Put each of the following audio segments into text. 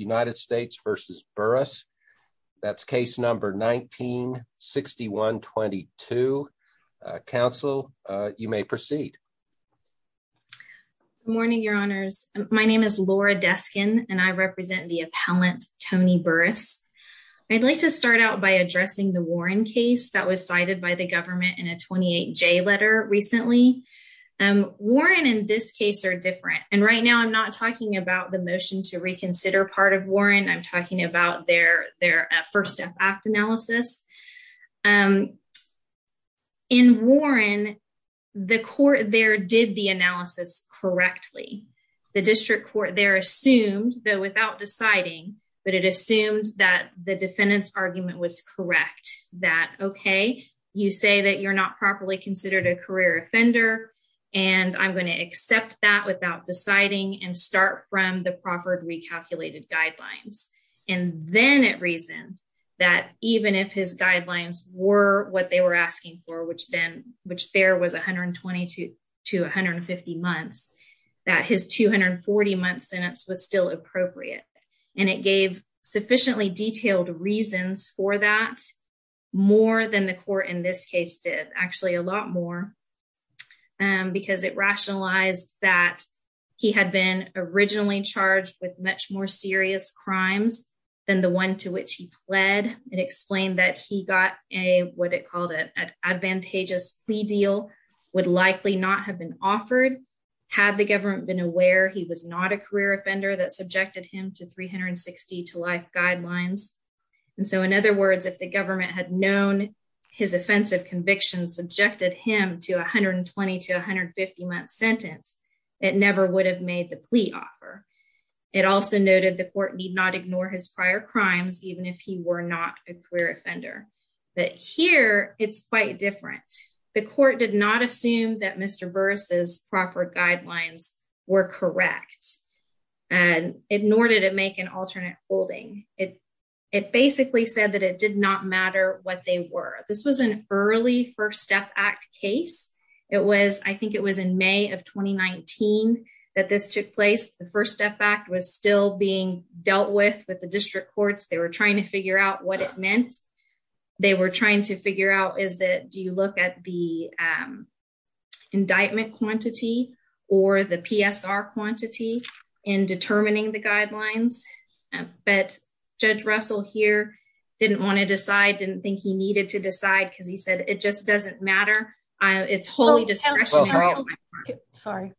United States v. Burris. That's case number 19-6122. Council, you may proceed. Good morning, your honors. My name is Laura Deskin, and I represent the appellant Tony Burris. I'd like to start out by addressing the Warren case that was cited by the government in a 28J letter recently. Warren and this case are different, and right now I'm not talking about the motion to reconsider part of Warren. I'm talking about their first step act analysis. In Warren, the court there did the analysis correctly. The district court there assumed, though without deciding, but it assumed that the defendant's argument was correct, that okay, you say that you're not properly considered a career offender, and I'm going to accept that without deciding and start from the proffered recalculated guidelines. And then it reasoned that even if his guidelines were what they were asking for, which then, which there was 120 to 150 months, that his 240-month sentence was still appropriate. And it gave sufficiently detailed reasons for that, more than the court in this case did, actually a lot more, because it rationalized that he had been originally charged with much more serious crimes than the one to which he pled. It explained that he got a, what it called an advantageous plea deal, would likely not have been offered had the government been aware he was not a career offender that subjected him to 360 to life guidelines. And so in other words, if the 120 to 150-month sentence, it never would have made the plea offer. It also noted the court need not ignore his prior crimes, even if he were not a career offender. But here it's quite different. The court did not assume that Mr. Burris's proper guidelines were correct and ignored it to make an alternate holding. It basically said that it did not matter what they were. This was an early First Act case. It was, I think it was in May of 2019 that this took place. The First Act was still being dealt with, with the district courts. They were trying to figure out what it meant. They were trying to figure out is that, do you look at the indictment quantity or the PSR quantity in determining the guidelines? But Judge Russell here didn't want to decide, didn't think he needed to decide because he said, it just doesn't matter. It's wholly discretionary. Sorry.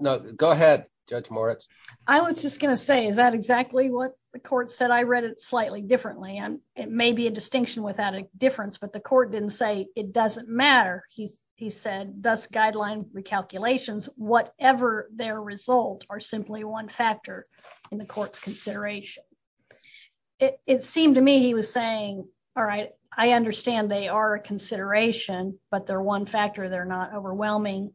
Go ahead, Judge Moritz. I was just going to say, is that exactly what the court said? I read it slightly differently and it may be a distinction without a difference, but the court didn't say it doesn't matter. He said, thus guideline recalculations, whatever their result are simply one factor in the court's consideration. It seemed to me he was saying, all right, I understand they are a consideration, but they're one factor. They're not overwhelming.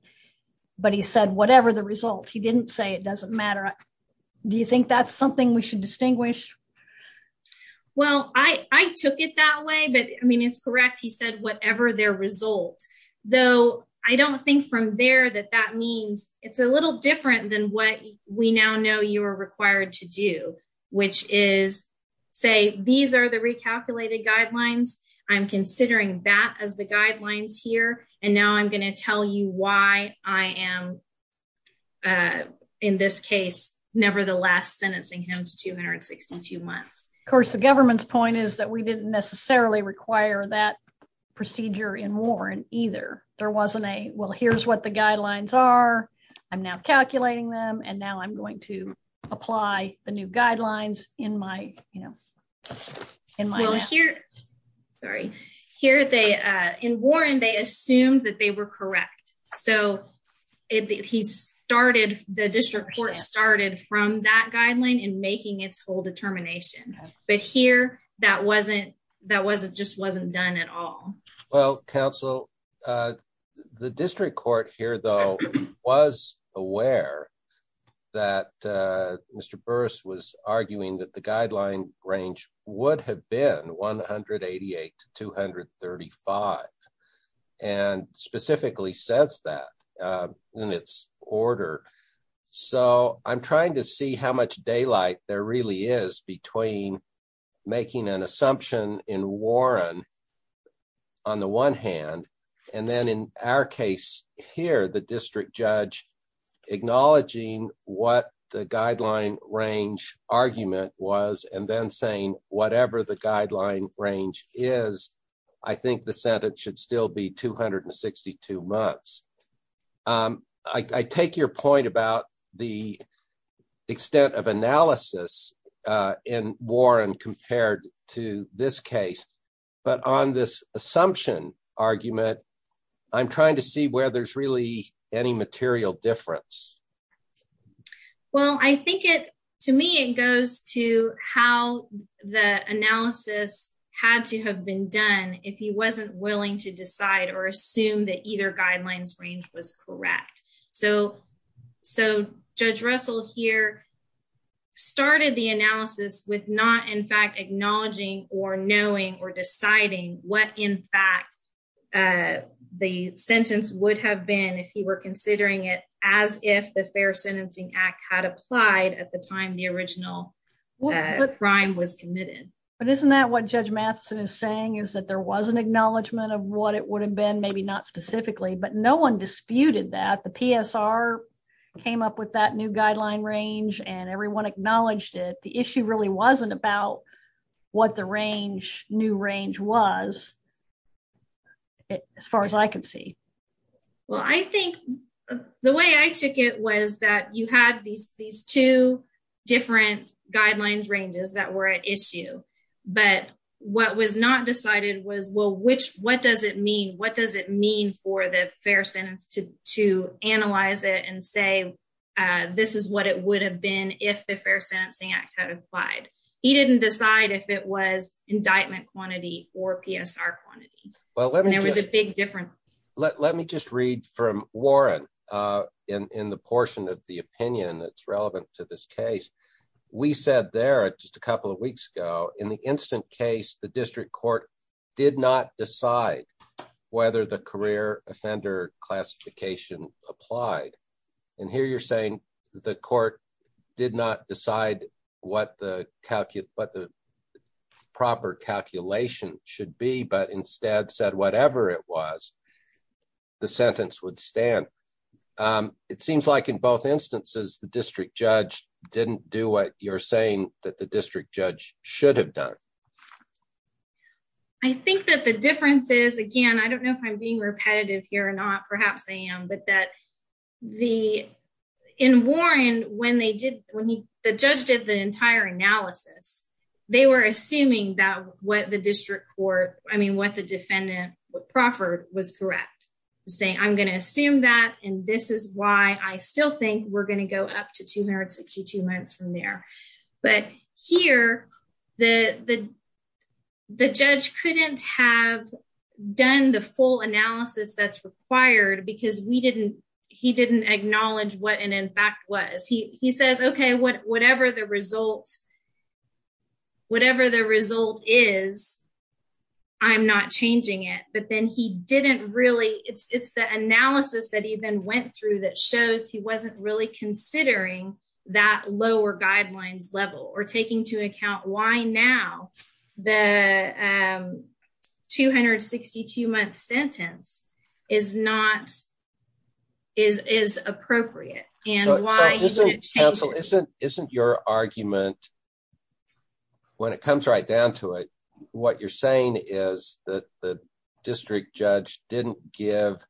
But he said, whatever the result, he didn't say it doesn't matter. Do you think that's something we should distinguish? Well, I took it that way, but I mean, it's correct. He said, whatever their result, though, I don't think from there that that means it's a little different than what we now know you are required to do, which is say, these are the recalculated guidelines. I'm considering that as the guidelines here. And now I'm going to tell you why I am in this case, nevertheless, sentencing him to 262 months. Of course, the government's point is that we didn't necessarily require that procedure in Warren either. There wasn't a, well, here's what the guidelines are. I'm now calculating them. And now I'm going to apply the new guidelines in my, you know, in my, sorry, here they in Warren, they assumed that they were correct. So he started the district court started from that guideline and making its whole determination. But here, that wasn't that wasn't just wasn't done at all. Well, counsel, the district court here, though, was aware that Mr. Burris was arguing that the guideline range would have been 188 to 235. And specifically says that in its order. So I'm trying to see how much daylight there really is between making an assumption in Warren, on the one hand, and then in our case, here, the district judge, acknowledging what the guideline range argument was, and then saying, whatever the guideline range is, I think the Senate should still be 262 months. I take your point about the to this case. But on this assumption, argument, I'm trying to see where there's really any material difference. Well, I think it, to me, it goes to how the analysis had to have been done, if he wasn't willing to decide or assume that either guidelines range was correct. So, so Judge Russell here started the analysis with not in fact acknowledging or knowing or deciding what in fact, the sentence would have been if he were considering it as if the Fair Sentencing Act had applied at the time the original crime was committed. But isn't that what Judge Matheson is saying is that there was an acknowledgement of what it would have been maybe not specifically, but no one disputed that the PSR came up with that new guideline range, and everyone acknowledged it, the issue really wasn't about what the range new range was. As far as I can see, well, I think the way I took it was that you had these, these two different guidelines ranges that were at issue. But what was not decided was well, what does it mean? What does it mean for the fair sentence to analyze it and say, this is what it would have been if the Fair Sentencing Act had applied? He didn't decide if it was indictment quantity or PSR quantity. Well, there was a big difference. Let me just read from Warren in the portion of the opinion that's relevant to this case. We said there just a couple of weeks ago, in the instant case, the district court did not decide whether the career offender classification applied. And here you're saying the court did not decide what the proper calculation should be, but instead said whatever it was, the sentence would stand. It seems like in both instances, the district judge didn't do what you're saying that the district judge should have done. I think that the difference is, again, I don't know if I'm being repetitive here or not, perhaps I am, but that the, in Warren, when they did, when he, the judge did the entire analysis, they were assuming that what the district court, I mean, what the defendant, what Profford was correct, saying, I'm going to assume that and this is why I still think we're going to go up to 262 months from there. But here, the judge couldn't have done the full analysis that's required because we didn't, he didn't acknowledge what an impact was. He says, okay, whatever the result, whatever the result is, I'm not changing it. But then he didn't really, it's the analysis that he then went through that shows he wasn't really considering that lower guidelines level or taking to account why now the 262 month sentence is not, is appropriate. And why isn't your argument, when it comes right down to it, what you're saying is that the district judge didn't give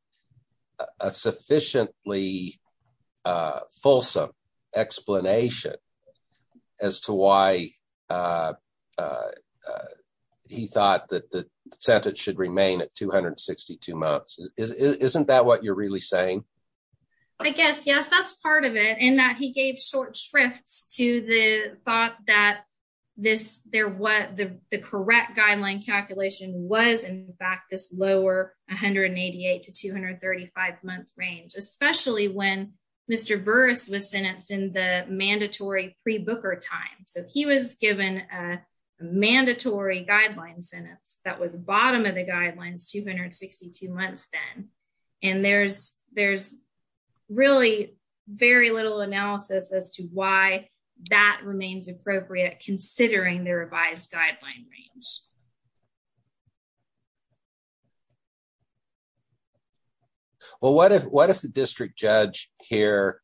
a sufficiently fulsome explanation as to why he thought that the sentence should remain at 262 months. Isn't that what you're really saying? I guess, yes, that's part of it. And that he gave short shrifts to the thought that this there was the correct guideline calculation was in fact this lower 188 to 235 month range, especially when Mr. Burris was sentenced in the mandatory pre-booker time. So he was given a mandatory guideline sentence that was bottom of the guidelines 262 months then. And there's, there's really very little analysis as to why that remains appropriate considering the revised guideline range. Well, what if the district judge here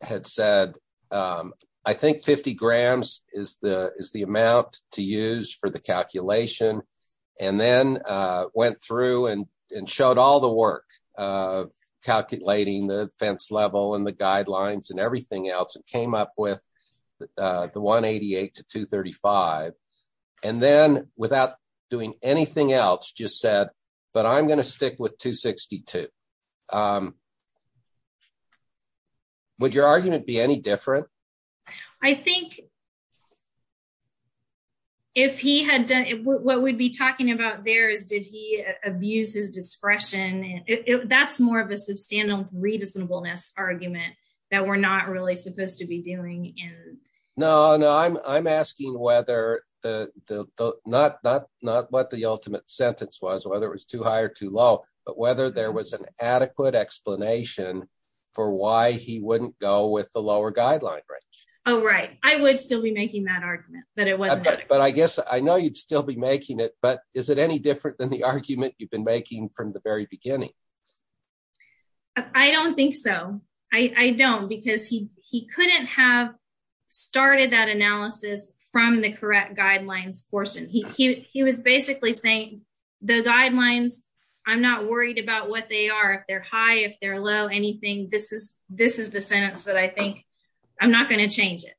had said, I think 50 grams is the amount to use for the calculation, and then went through and showed all the work of calculating the fence level and the guidelines and everything else and came up with the 188 to 235. And then without doing anything else, just said, but I'm going to stick with 262. Would your argument be any different? I think if he had done what we'd talking about there is, did he abuse his discretion? That's more of a substantial reasonableness argument that we're not really supposed to be doing. No, no. I'm, I'm asking whether the, the, the, not, not, not what the ultimate sentence was, whether it was too high or too low, but whether there was an adequate explanation for why he wouldn't go with the lower guideline. Oh, right. I would still be making that argument, but I guess I know you'd still be making it, but is it any different than the argument you've been making from the very beginning? I don't think so. I don't because he, he couldn't have started that analysis from the correct guidelines portion. He, he, he was basically saying the guidelines, I'm not worried about what they are. If they're high, if they're low, anything, this is, this is the sentence that I think I'm not going to change it,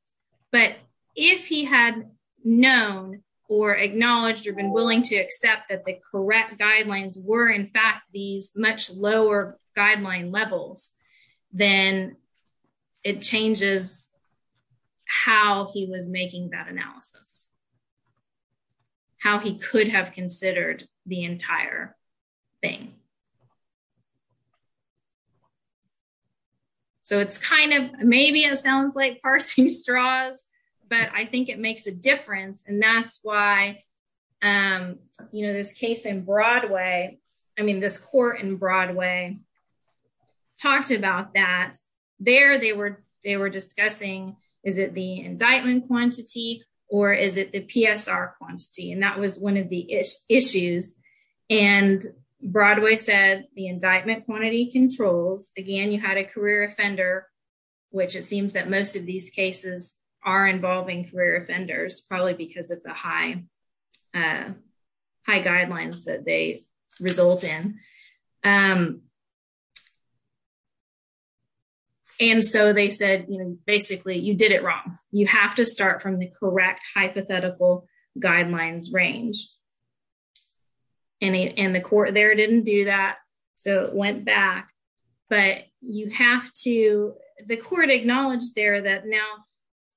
but if he had known or acknowledged or been willing to accept that the correct guidelines were in fact, these much lower guideline levels, then it changes how he was making that analysis, how he could have considered the entire thing. So it's kind of, maybe it sounds like parsing straws, but I think it makes a difference. And that's why, you know, this case in Broadway, I mean, this court in Broadway talked about that there, they were, they were discussing, is it the indictment quantity or is it the PSR quantity? And that was one of the issues. And Broadway said the indictment quantity controls, again, had a career offender, which it seems that most of these cases are involving career offenders, probably because of the high, high guidelines that they result in. And so they said, basically you did it wrong. You have to start from the correct hypothetical guidelines range. And the court there didn't do that. So it went back, but you have to, the court acknowledged there that now,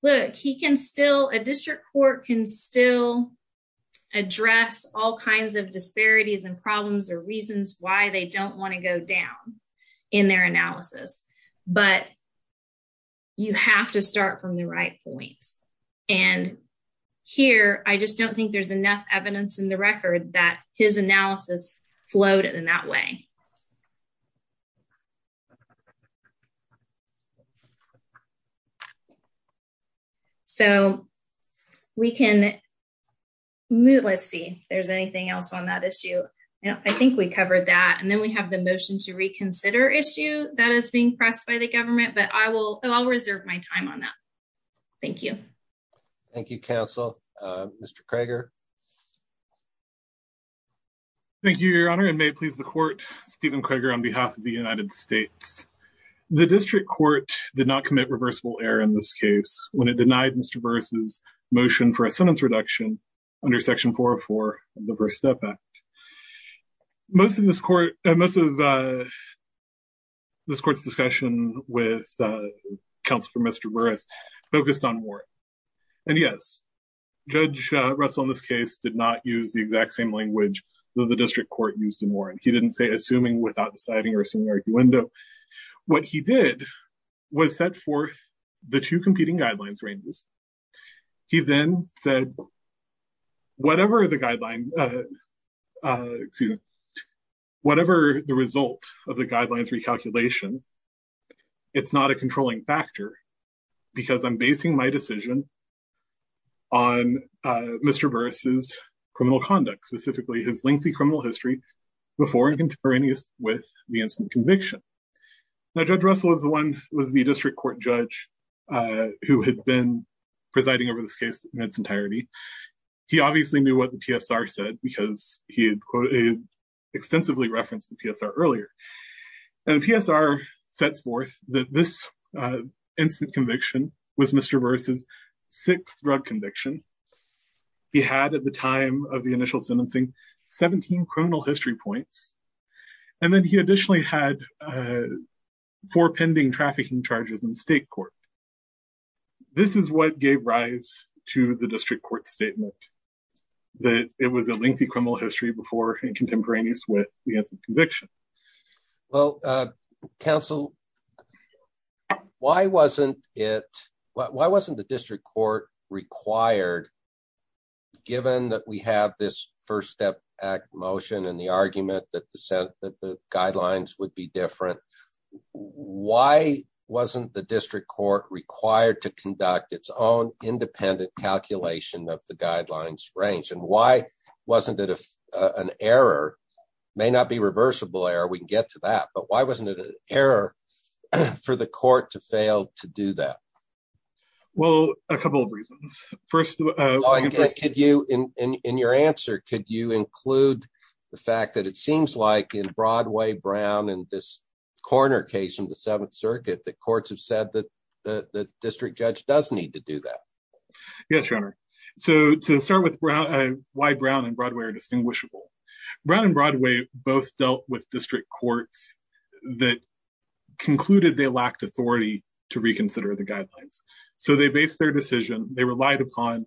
look, he can still, a district court can still address all kinds of disparities and problems or reasons why they don't want to go down in their analysis, but you have to start from the right point. And here, I just don't think there's enough evidence in the record that his analysis floated in that way. So we can move, let's see if there's anything else on that issue. I think we covered that. And then we have the motion to reconsider issue that is being pressed by the government, but I will, I'll reserve my time on that. Thank you. Thank you, counsel. Mr. Cragar. Thank you, your honor, and may it please the court, Stephen Cragar on behalf of the United States. The district court did not commit reversible error in this case when it denied Mr. Burris' motion for a sentence reduction under section 404 of the First Step Act. Most of this court, most of this court's discussion with counsel for Mr. Burris focused on warrant. And yes, Judge Russell in this case did not use the exact same language that the district court used in warrant. He didn't say assuming without deciding or assuming arguendo. What he did was set forth the two competing guidelines ranges. He then said, whatever the guideline, excuse me, whatever the result of the guidelines recalculation, it's not a controlling factor because I'm basing my decision on Mr. Burris' criminal conduct, specifically his lengthy criminal history before and contemporaneous with the instant conviction. Now, Judge Russell was the one, was the district court judge who had been presiding over this case in its entirety. He obviously knew what the PSR said because he had extensively referenced the PSR earlier. And PSR sets forth that this instant conviction was Mr. Burris' sixth drug conviction. He had at the time of the initial sentencing, 17 criminal history points. And then he additionally had four pending trafficking charges in the state court. This is what gave rise to the district court statement that it was a lengthy criminal history before and contemporaneous with the instant conviction. Well, counsel, why wasn't it, why wasn't the district court required given that we have this first step act motion and the argument that the guidelines would be different, why wasn't the district court required to conduct its own independent calculation of the guidelines range? And why wasn't it an error, may not be reversible error, we can get to that, but why wasn't it an error for the court to fail to do that? Well, a couple of reasons. First, could you, in your answer, could you include the fact that it seems like in Broadway, Brown, and this corner case in the seventh circuit, the courts have said that the district judge does need to do that. Yes, your honor. So to start with why Brown and Broadway are distinguishable, Brown and Broadway both dealt with district courts that concluded they lacked authority to reconsider the guidelines. So they based their decision, they relied upon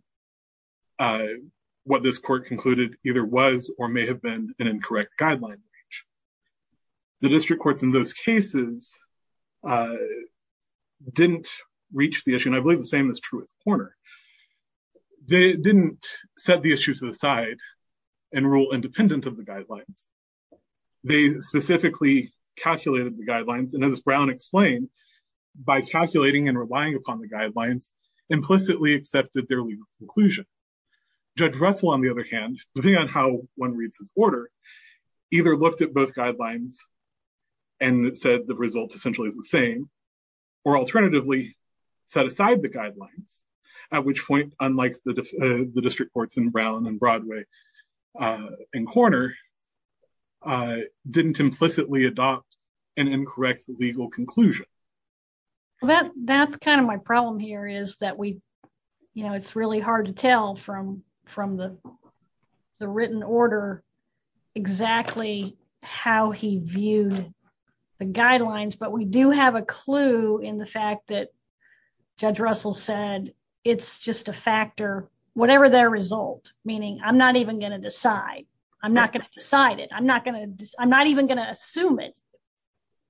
what this court concluded either was or may have been an incorrect guideline. The district courts in those cases didn't reach the issue, and I believe the same is true with corner. They didn't set the issue to the side and rule independent of the guidelines. They specifically calculated the guidelines, and as Brown explained, by calculating and relying upon the guidelines, implicitly accepted their legal conclusion. Judge Russell, on the other hand, depending on how one reads his order, either looked at both guidelines and said the result essentially is the same, or alternatively, set aside the guidelines, at which point, unlike the district courts in Brown and Broadway and corner, didn't implicitly adopt an incorrect legal conclusion. Well, that's kind of my problem here is that we, you know, it's really hard to tell from the written order exactly how he viewed the guidelines, but we do have a clue in the fact that Judge Russell said it's just a factor, whatever their result, meaning I'm not even going to decide. I'm not going to decide it. I'm not going to, I'm not even going to assume it.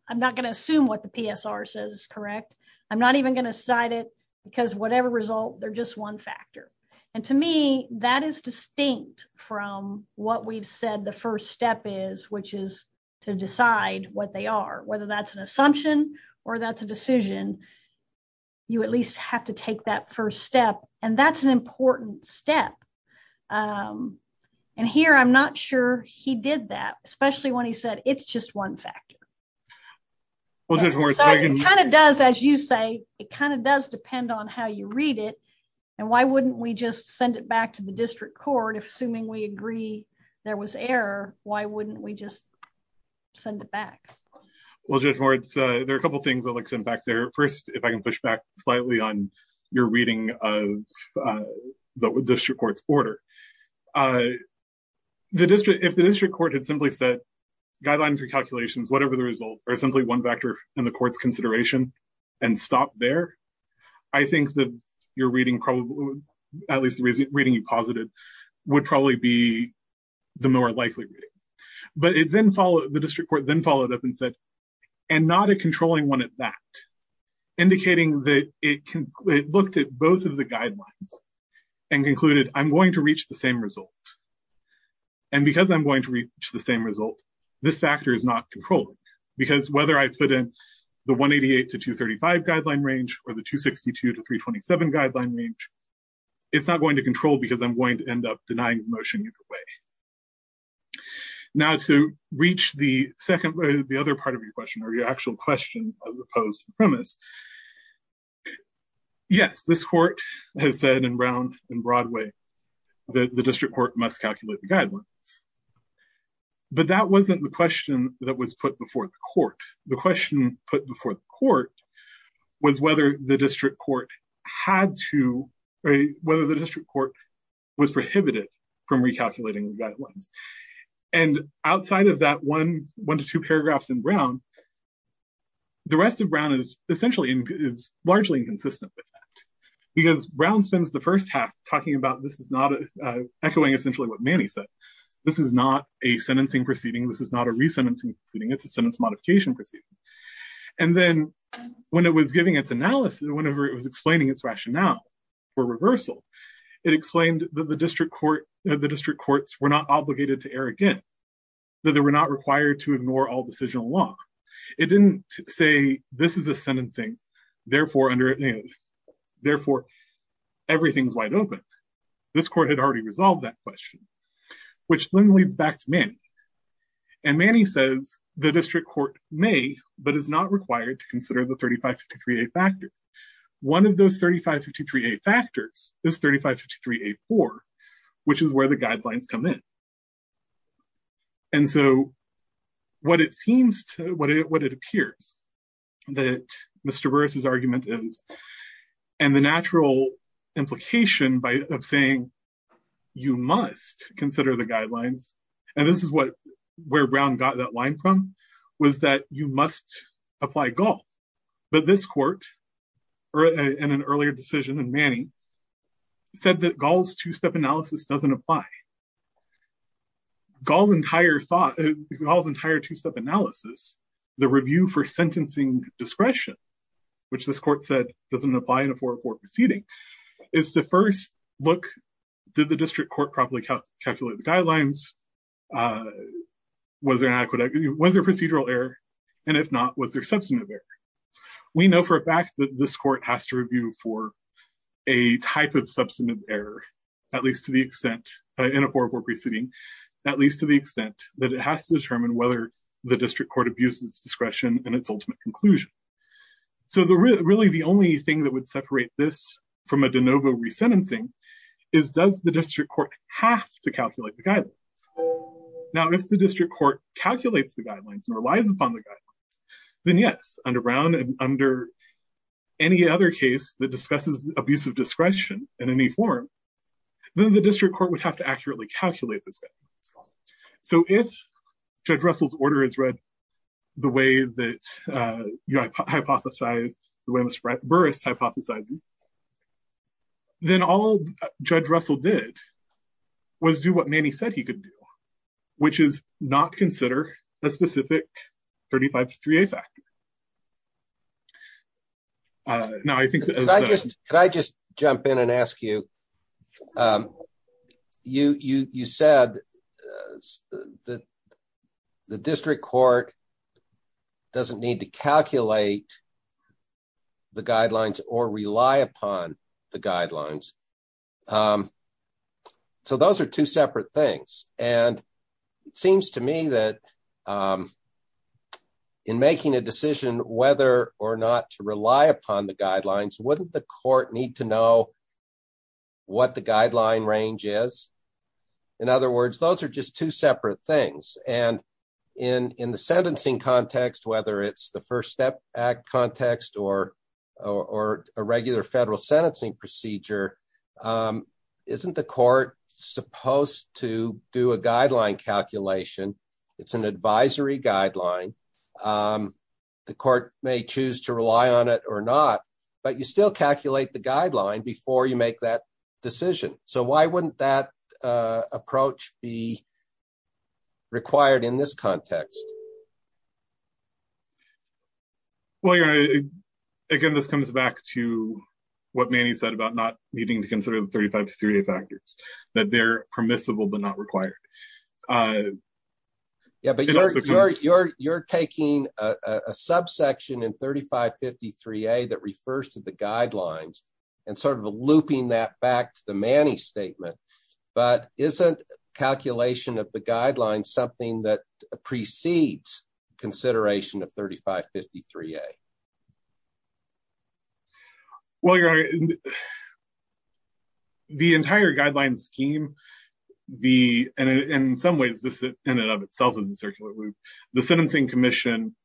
I'm not going to assume what the PSR says is correct. I'm not even going to decide it, because whatever result, they're just one factor, and to me, that is distinct from what we've said the first step is, which is to decide what they are, whether that's an assumption or that's a you at least have to take that first step, and that's an important step, and here I'm not sure he did that, especially when he said it's just one factor. It kind of does, as you say, it kind of does depend on how you read it, and why wouldn't we just send it back to the district court, if assuming we agree there was error, why wouldn't we just send it back? Well, Judge Moritz, there are a couple things I'd like to come back there. First, if I can push back slightly on your reading of the district court's order, if the district court had simply said guidelines, recalculations, whatever the result, or simply one factor in the court's consideration, and stopped there, I think that your reading, at least the reading you posited, would probably be the more likely reading, but it then followed, the district court then followed up and said, and not a controlling one at that, indicating that it looked at both of the guidelines, and concluded, I'm going to reach the same result, and because I'm going to reach the same result, this factor is not controlling, because whether I put in the 188 to 235 guideline range, or the 262 to 327 guideline range, it's not going to control, because I'm going to end up denying the motion either way. Now, to reach the second, the other part of your question, or your actual question, as opposed to premise, yes, this court has said in round, in broad way, that the district court must calculate the guidelines, but that wasn't the question that was put before the court. The question put before the court was whether the district court had to, or whether the district court was prohibited from recalculating the guidelines, and outside of that one, one to two paragraphs in Brown, the rest of Brown is essentially, is largely inconsistent with that, because Brown spends the first half talking about, this is not, echoing essentially what Manny said, this is not a sentencing proceeding, this is not a re-sentencing proceeding, it's a sentence modification proceeding, and then when it was giving its analysis, whenever it was explaining its rationale for reversal, it explained that the district court, the district courts were not obligated to err again, that they were not required to ignore all decisional law. It didn't say this is a sentencing, therefore everything's wide open. This court had already resolved that question, which then leads back to Manny, and Manny says the district court may, but is not required to err again, and one of those 3553a factors is 3553a4, which is where the guidelines come in. And so what it seems to, what it appears that Mr. Burris's argument is, and the natural implication by, of saying you must consider the guidelines, and this is what, where Brown got that line from, was that you must apply Gaul, but this court, in an earlier decision in Manny, said that Gaul's two-step analysis doesn't apply. Gaul's entire thought, Gaul's entire two-step analysis, the review for sentencing discretion, which this court said doesn't apply in a 404 proceeding, is to first look, did the district court properly calculate the guidelines, was there an adequate, was there procedural error, and if not, was there substantive error? We know for a fact that this court has to review for a type of substantive error, at least to the extent, in a 404 proceeding, at least to the extent that it has to determine whether the district court abuses discretion in its ultimate conclusion. So the really, the only thing that would separate this from a de novo re-sentencing is, does the district court have to calculate the guidelines? Now, if the district court calculates the guidelines and relies upon the guidelines, then yes, under Brown and under any other case that discusses abusive discretion in any form, then the district court would have to accurately calculate this. So if Judge Russell's order is the way that you hypothesize, the way Mr. Burris hypothesizes, then all Judge Russell did was do what Manny said he could do, which is not consider a specific 35-3A factor. Could I just jump in and ask you, you said that the district court doesn't need to calculate the guidelines or rely upon the guidelines. So those are two separate things, and it seems to me that in making a decision whether or not to rely upon the guidelines, wouldn't the court need to know what the guideline range is? In other words, those are just two separate things. And in the sentencing context, whether it's the First Step Act context or a regular federal sentencing procedure, isn't the court supposed to do a guideline calculation? It's an advisory guideline. The court may choose to rely on it or not, but you still calculate the guideline before you make that decision. So why wouldn't that approach be required in this context? Well, again, this comes back to what Manny said about not needing to consider the 35-3A factors, that they're permissible but not required. Yeah, but you're taking a subsection in 35-53A that refers to the guidelines and sort of looping that back to the Manny statement, but isn't calculation of the guidelines something that precedes consideration of 35-53A? Well, the entire guideline scheme, and in some ways, this in and of itself is a circular loop. The Sentencing Commission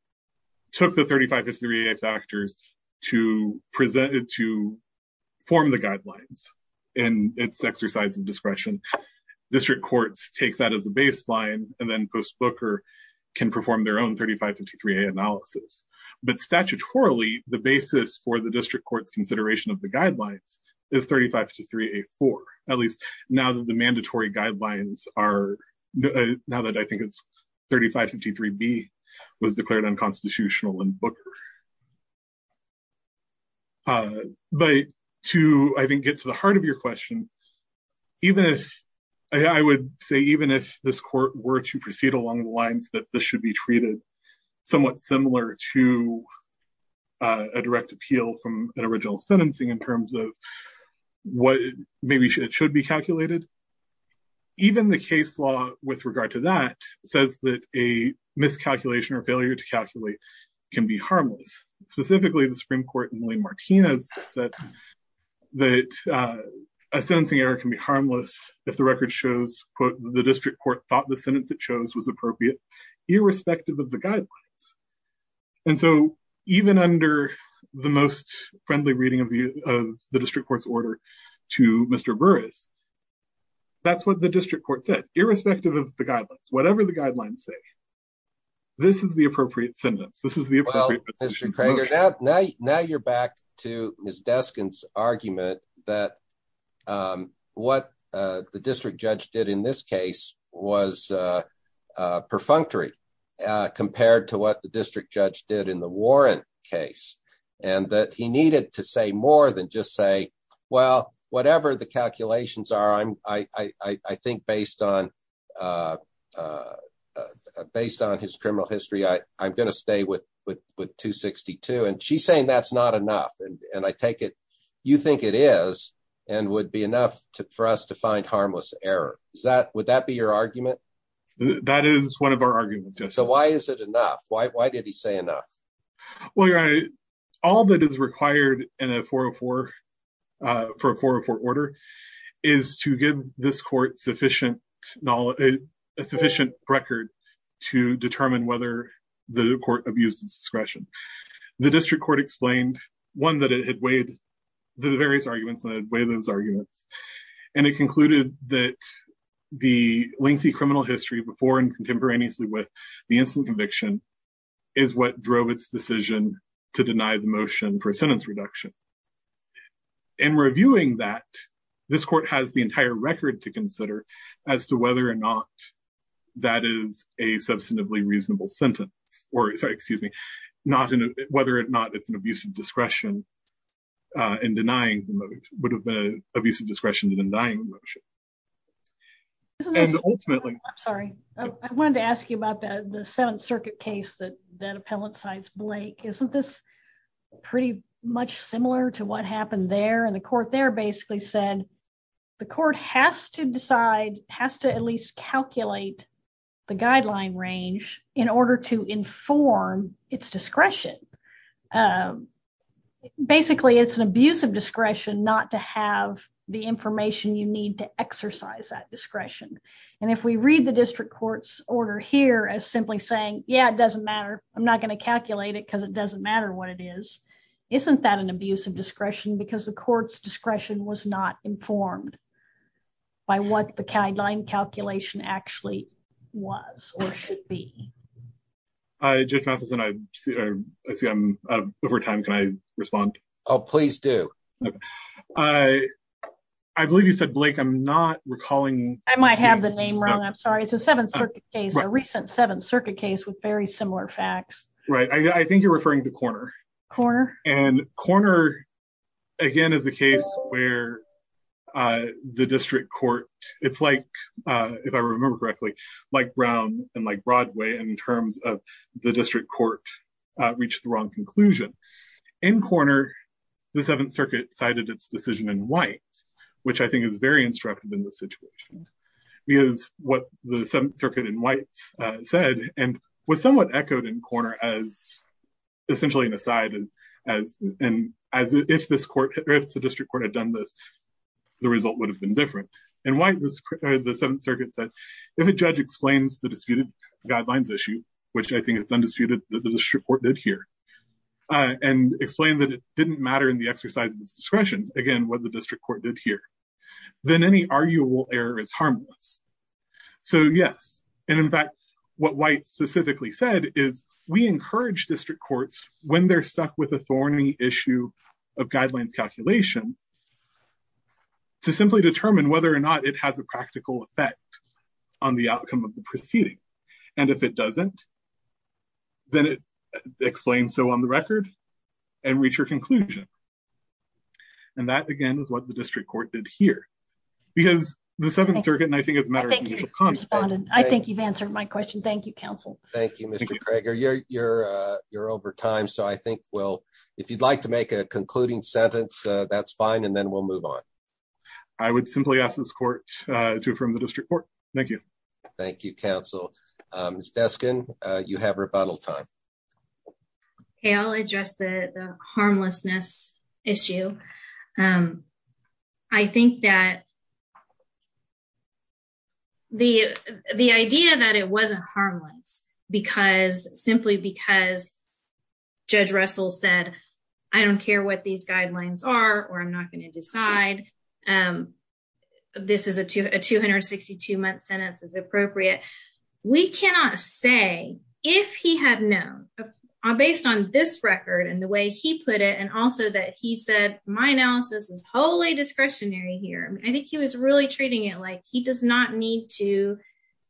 took the 35-53A factors to form the guidelines in its exercise of discretion. District courts take that as a can perform their own 35-53A analysis. But statutorily, the basis for the district court's consideration of the guidelines is 35-53A-4, at least now that the mandatory guidelines are, now that I think it's 35-53B was declared unconstitutional in Booker. But to, I think, get to the heart of your question, even if, I would say even if this court were to proceed along the lines that this should be treated somewhat similar to a direct appeal from an original sentencing in terms of what maybe it should be calculated, even the case law with regard to that says that a miscalculation or failure to calculate can be harmless. Specifically, the Supreme Court in Lee-Martinez said that a sentencing error can be harmless if the record shows, quote, the district court thought the sentence it chose was appropriate, irrespective of the guidelines. And so, even under the most friendly reading of the district court's order to Mr. Burris, that's what the district court said, irrespective of the guidelines. Whatever the guidelines say, this is the appropriate sentence. This is the appropriate position. Now you're back to Ms. Deskin's argument that what the district judge did in this case was perfunctory compared to what the district judge did in the Warren case, and that he needed to say more than just say, well, whatever the calculations are, I think based on his criminal history, I'm going to stay with 262. And she's saying that's not enough. And I take it, you think it is, and would be enough for us to find harmless error. Would that be your argument? That is one of our arguments. So why is it enough? Why did he say enough? Well, your honor, all that is required in a 404, for a 404 order, is to give this court sufficient knowledge, a sufficient record to determine whether the court abused its discretion. The district court explained, one, that it had weighed the various arguments, that it had weighed those arguments. And it concluded that the lengthy criminal history, before and contemporaneously with the instant conviction, is what drove its decision to deny the motion for a sentence reduction. In reviewing that, this court has the entire record to consider as to whether or not that is a substantively reasonable sentence, or sorry, excuse me, whether or not it's an abuse of discretion in denying the motion, would have been an abuse of discretion in denying the motion. And ultimately... I'm sorry. I wanted to ask you about the Seventh Circuit case that that appellant cites, Blake. Isn't this pretty much similar to what happened there? And the court there basically said the court has to decide, has to at least calculate the guideline range in order to inform its discretion. Basically, it's an abuse of discretion not to have the information you need to exercise that discretion. And if we read the district court's order here as simply saying, yeah, it doesn't matter. I'm not going to calculate it because it doesn't matter what it is. Isn't that an abuse of discretion? Because the court's discretion was not informed by what the guideline calculation actually was or should be. Judge Matheson, I see I'm out of time. Can I respond? Oh, please do. I believe you said, Blake, I'm not recalling... I might have the name wrong. I'm sorry. It's a Seventh Circuit case, a recent Seventh Circuit case with very similar facts. Right. I think you're referring to Korner. Korner. And Korner, again, is a case where the district court, it's like, if I remember correctly, like Brown and like Broadway in terms of the district court reached the wrong conclusion. In Korner, the Seventh Circuit cited its decision in White, which I think is very in White, said and was somewhat echoed in Korner as essentially an aside and as if the district court had done this, the result would have been different. In White, the Seventh Circuit said, if a judge explains the disputed guidelines issue, which I think it's undisputed that the district court did here, and explained that it didn't matter in the exercise of its discretion, again, what the district court did here, then any arguable error is harmless. So, yes. And in fact, what White specifically said is we encourage district courts, when they're stuck with a thorny issue of guidelines calculation, to simply determine whether or not it has a practical effect on the outcome of the proceeding. And if it doesn't, then explain so on the record and reach your conclusion. And that, again, is what the district court did here. Because the Seventh Circuit, and I think it's a matter of mutual consent, I think you've answered my question. Thank you, counsel. Thank you, Mr. Crager. You're, you're, you're over time. So I think we'll, if you'd like to make a concluding sentence, that's fine. And then we'll move on. I would simply ask this court to affirm the district court. Thank you. Thank you, counsel. Ms. Deskin, you have rebuttal time. Okay, I'll address the harmlessness issue. I think that the, the idea that it wasn't harmless, because, simply because Judge Russell said, I don't care what these guidelines are, or I'm not going to decide. And this is a 262 month sentence is appropriate. We cannot say, if he had known, based on this record, and the way he put it, and also that he said, my analysis is wholly discretionary here. I think he was really treating it like he does not need to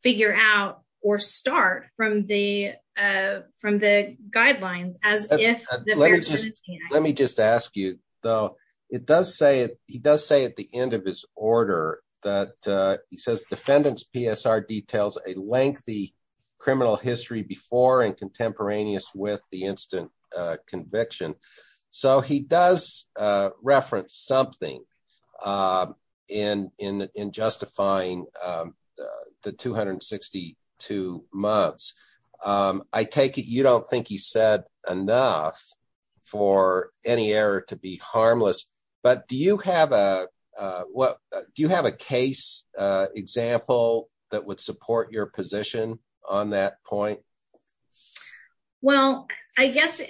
figure out or start from the, from the guidelines, as if... Let me just, let me just ask you, though, it does say it, he does say at the end of his order, that he says defendants PSR details, a lengthy criminal history before and contemporaneous with the instant conviction. So he does reference something in, in, in justifying the 262 months. I take it, don't think he said enough for any error to be harmless. But do you have a, what do you have a case example that would support your position on that point? Well, I guess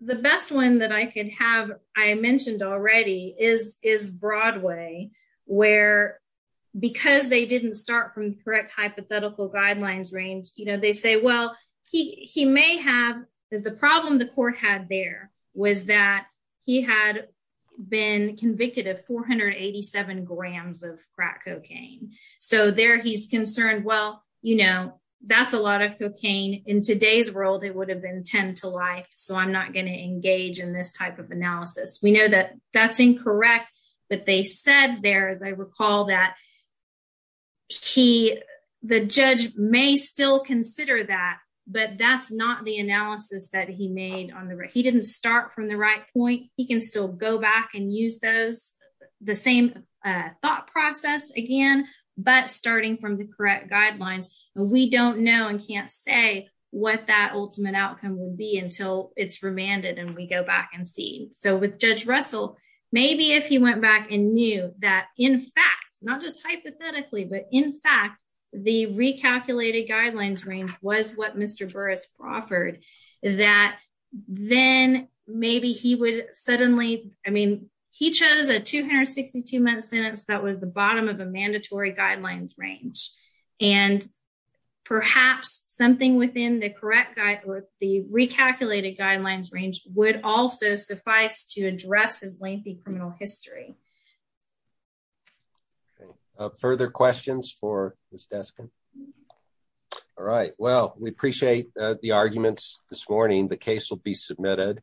the best one that I can have, I mentioned already is, is Broadway, where, because they didn't start from correct hypothetical guidelines range, you know, they say, well, he may have, the problem the court had there was that he had been convicted of 487 grams of crack cocaine. So there he's concerned, well, you know, that's a lot of cocaine in today's world, it would have been 10 to life. So I'm not going to engage in this type of analysis. We know that that's incorrect. But they said there, as I recall, that he, the judge may still consider that. But that's not the analysis that he made on the right, he didn't start from the right point, he can still go back and use those, the same thought process again. But starting from the correct guidelines, we don't know and can't say what that ultimate outcome will be until it's remanded. And we go back and see. So with Judge the recalculated guidelines range was what Mr. Burris offered, that then maybe he would suddenly, I mean, he chose a 262 month sentence that was the bottom of a mandatory guidelines range. And perhaps something within the correct guide or the recalculated guidelines range would also suffice to address his lengthy criminal history. Okay, further questions for Ms. Deskin? All right. Well, we appreciate the arguments this morning, the case will be submitted.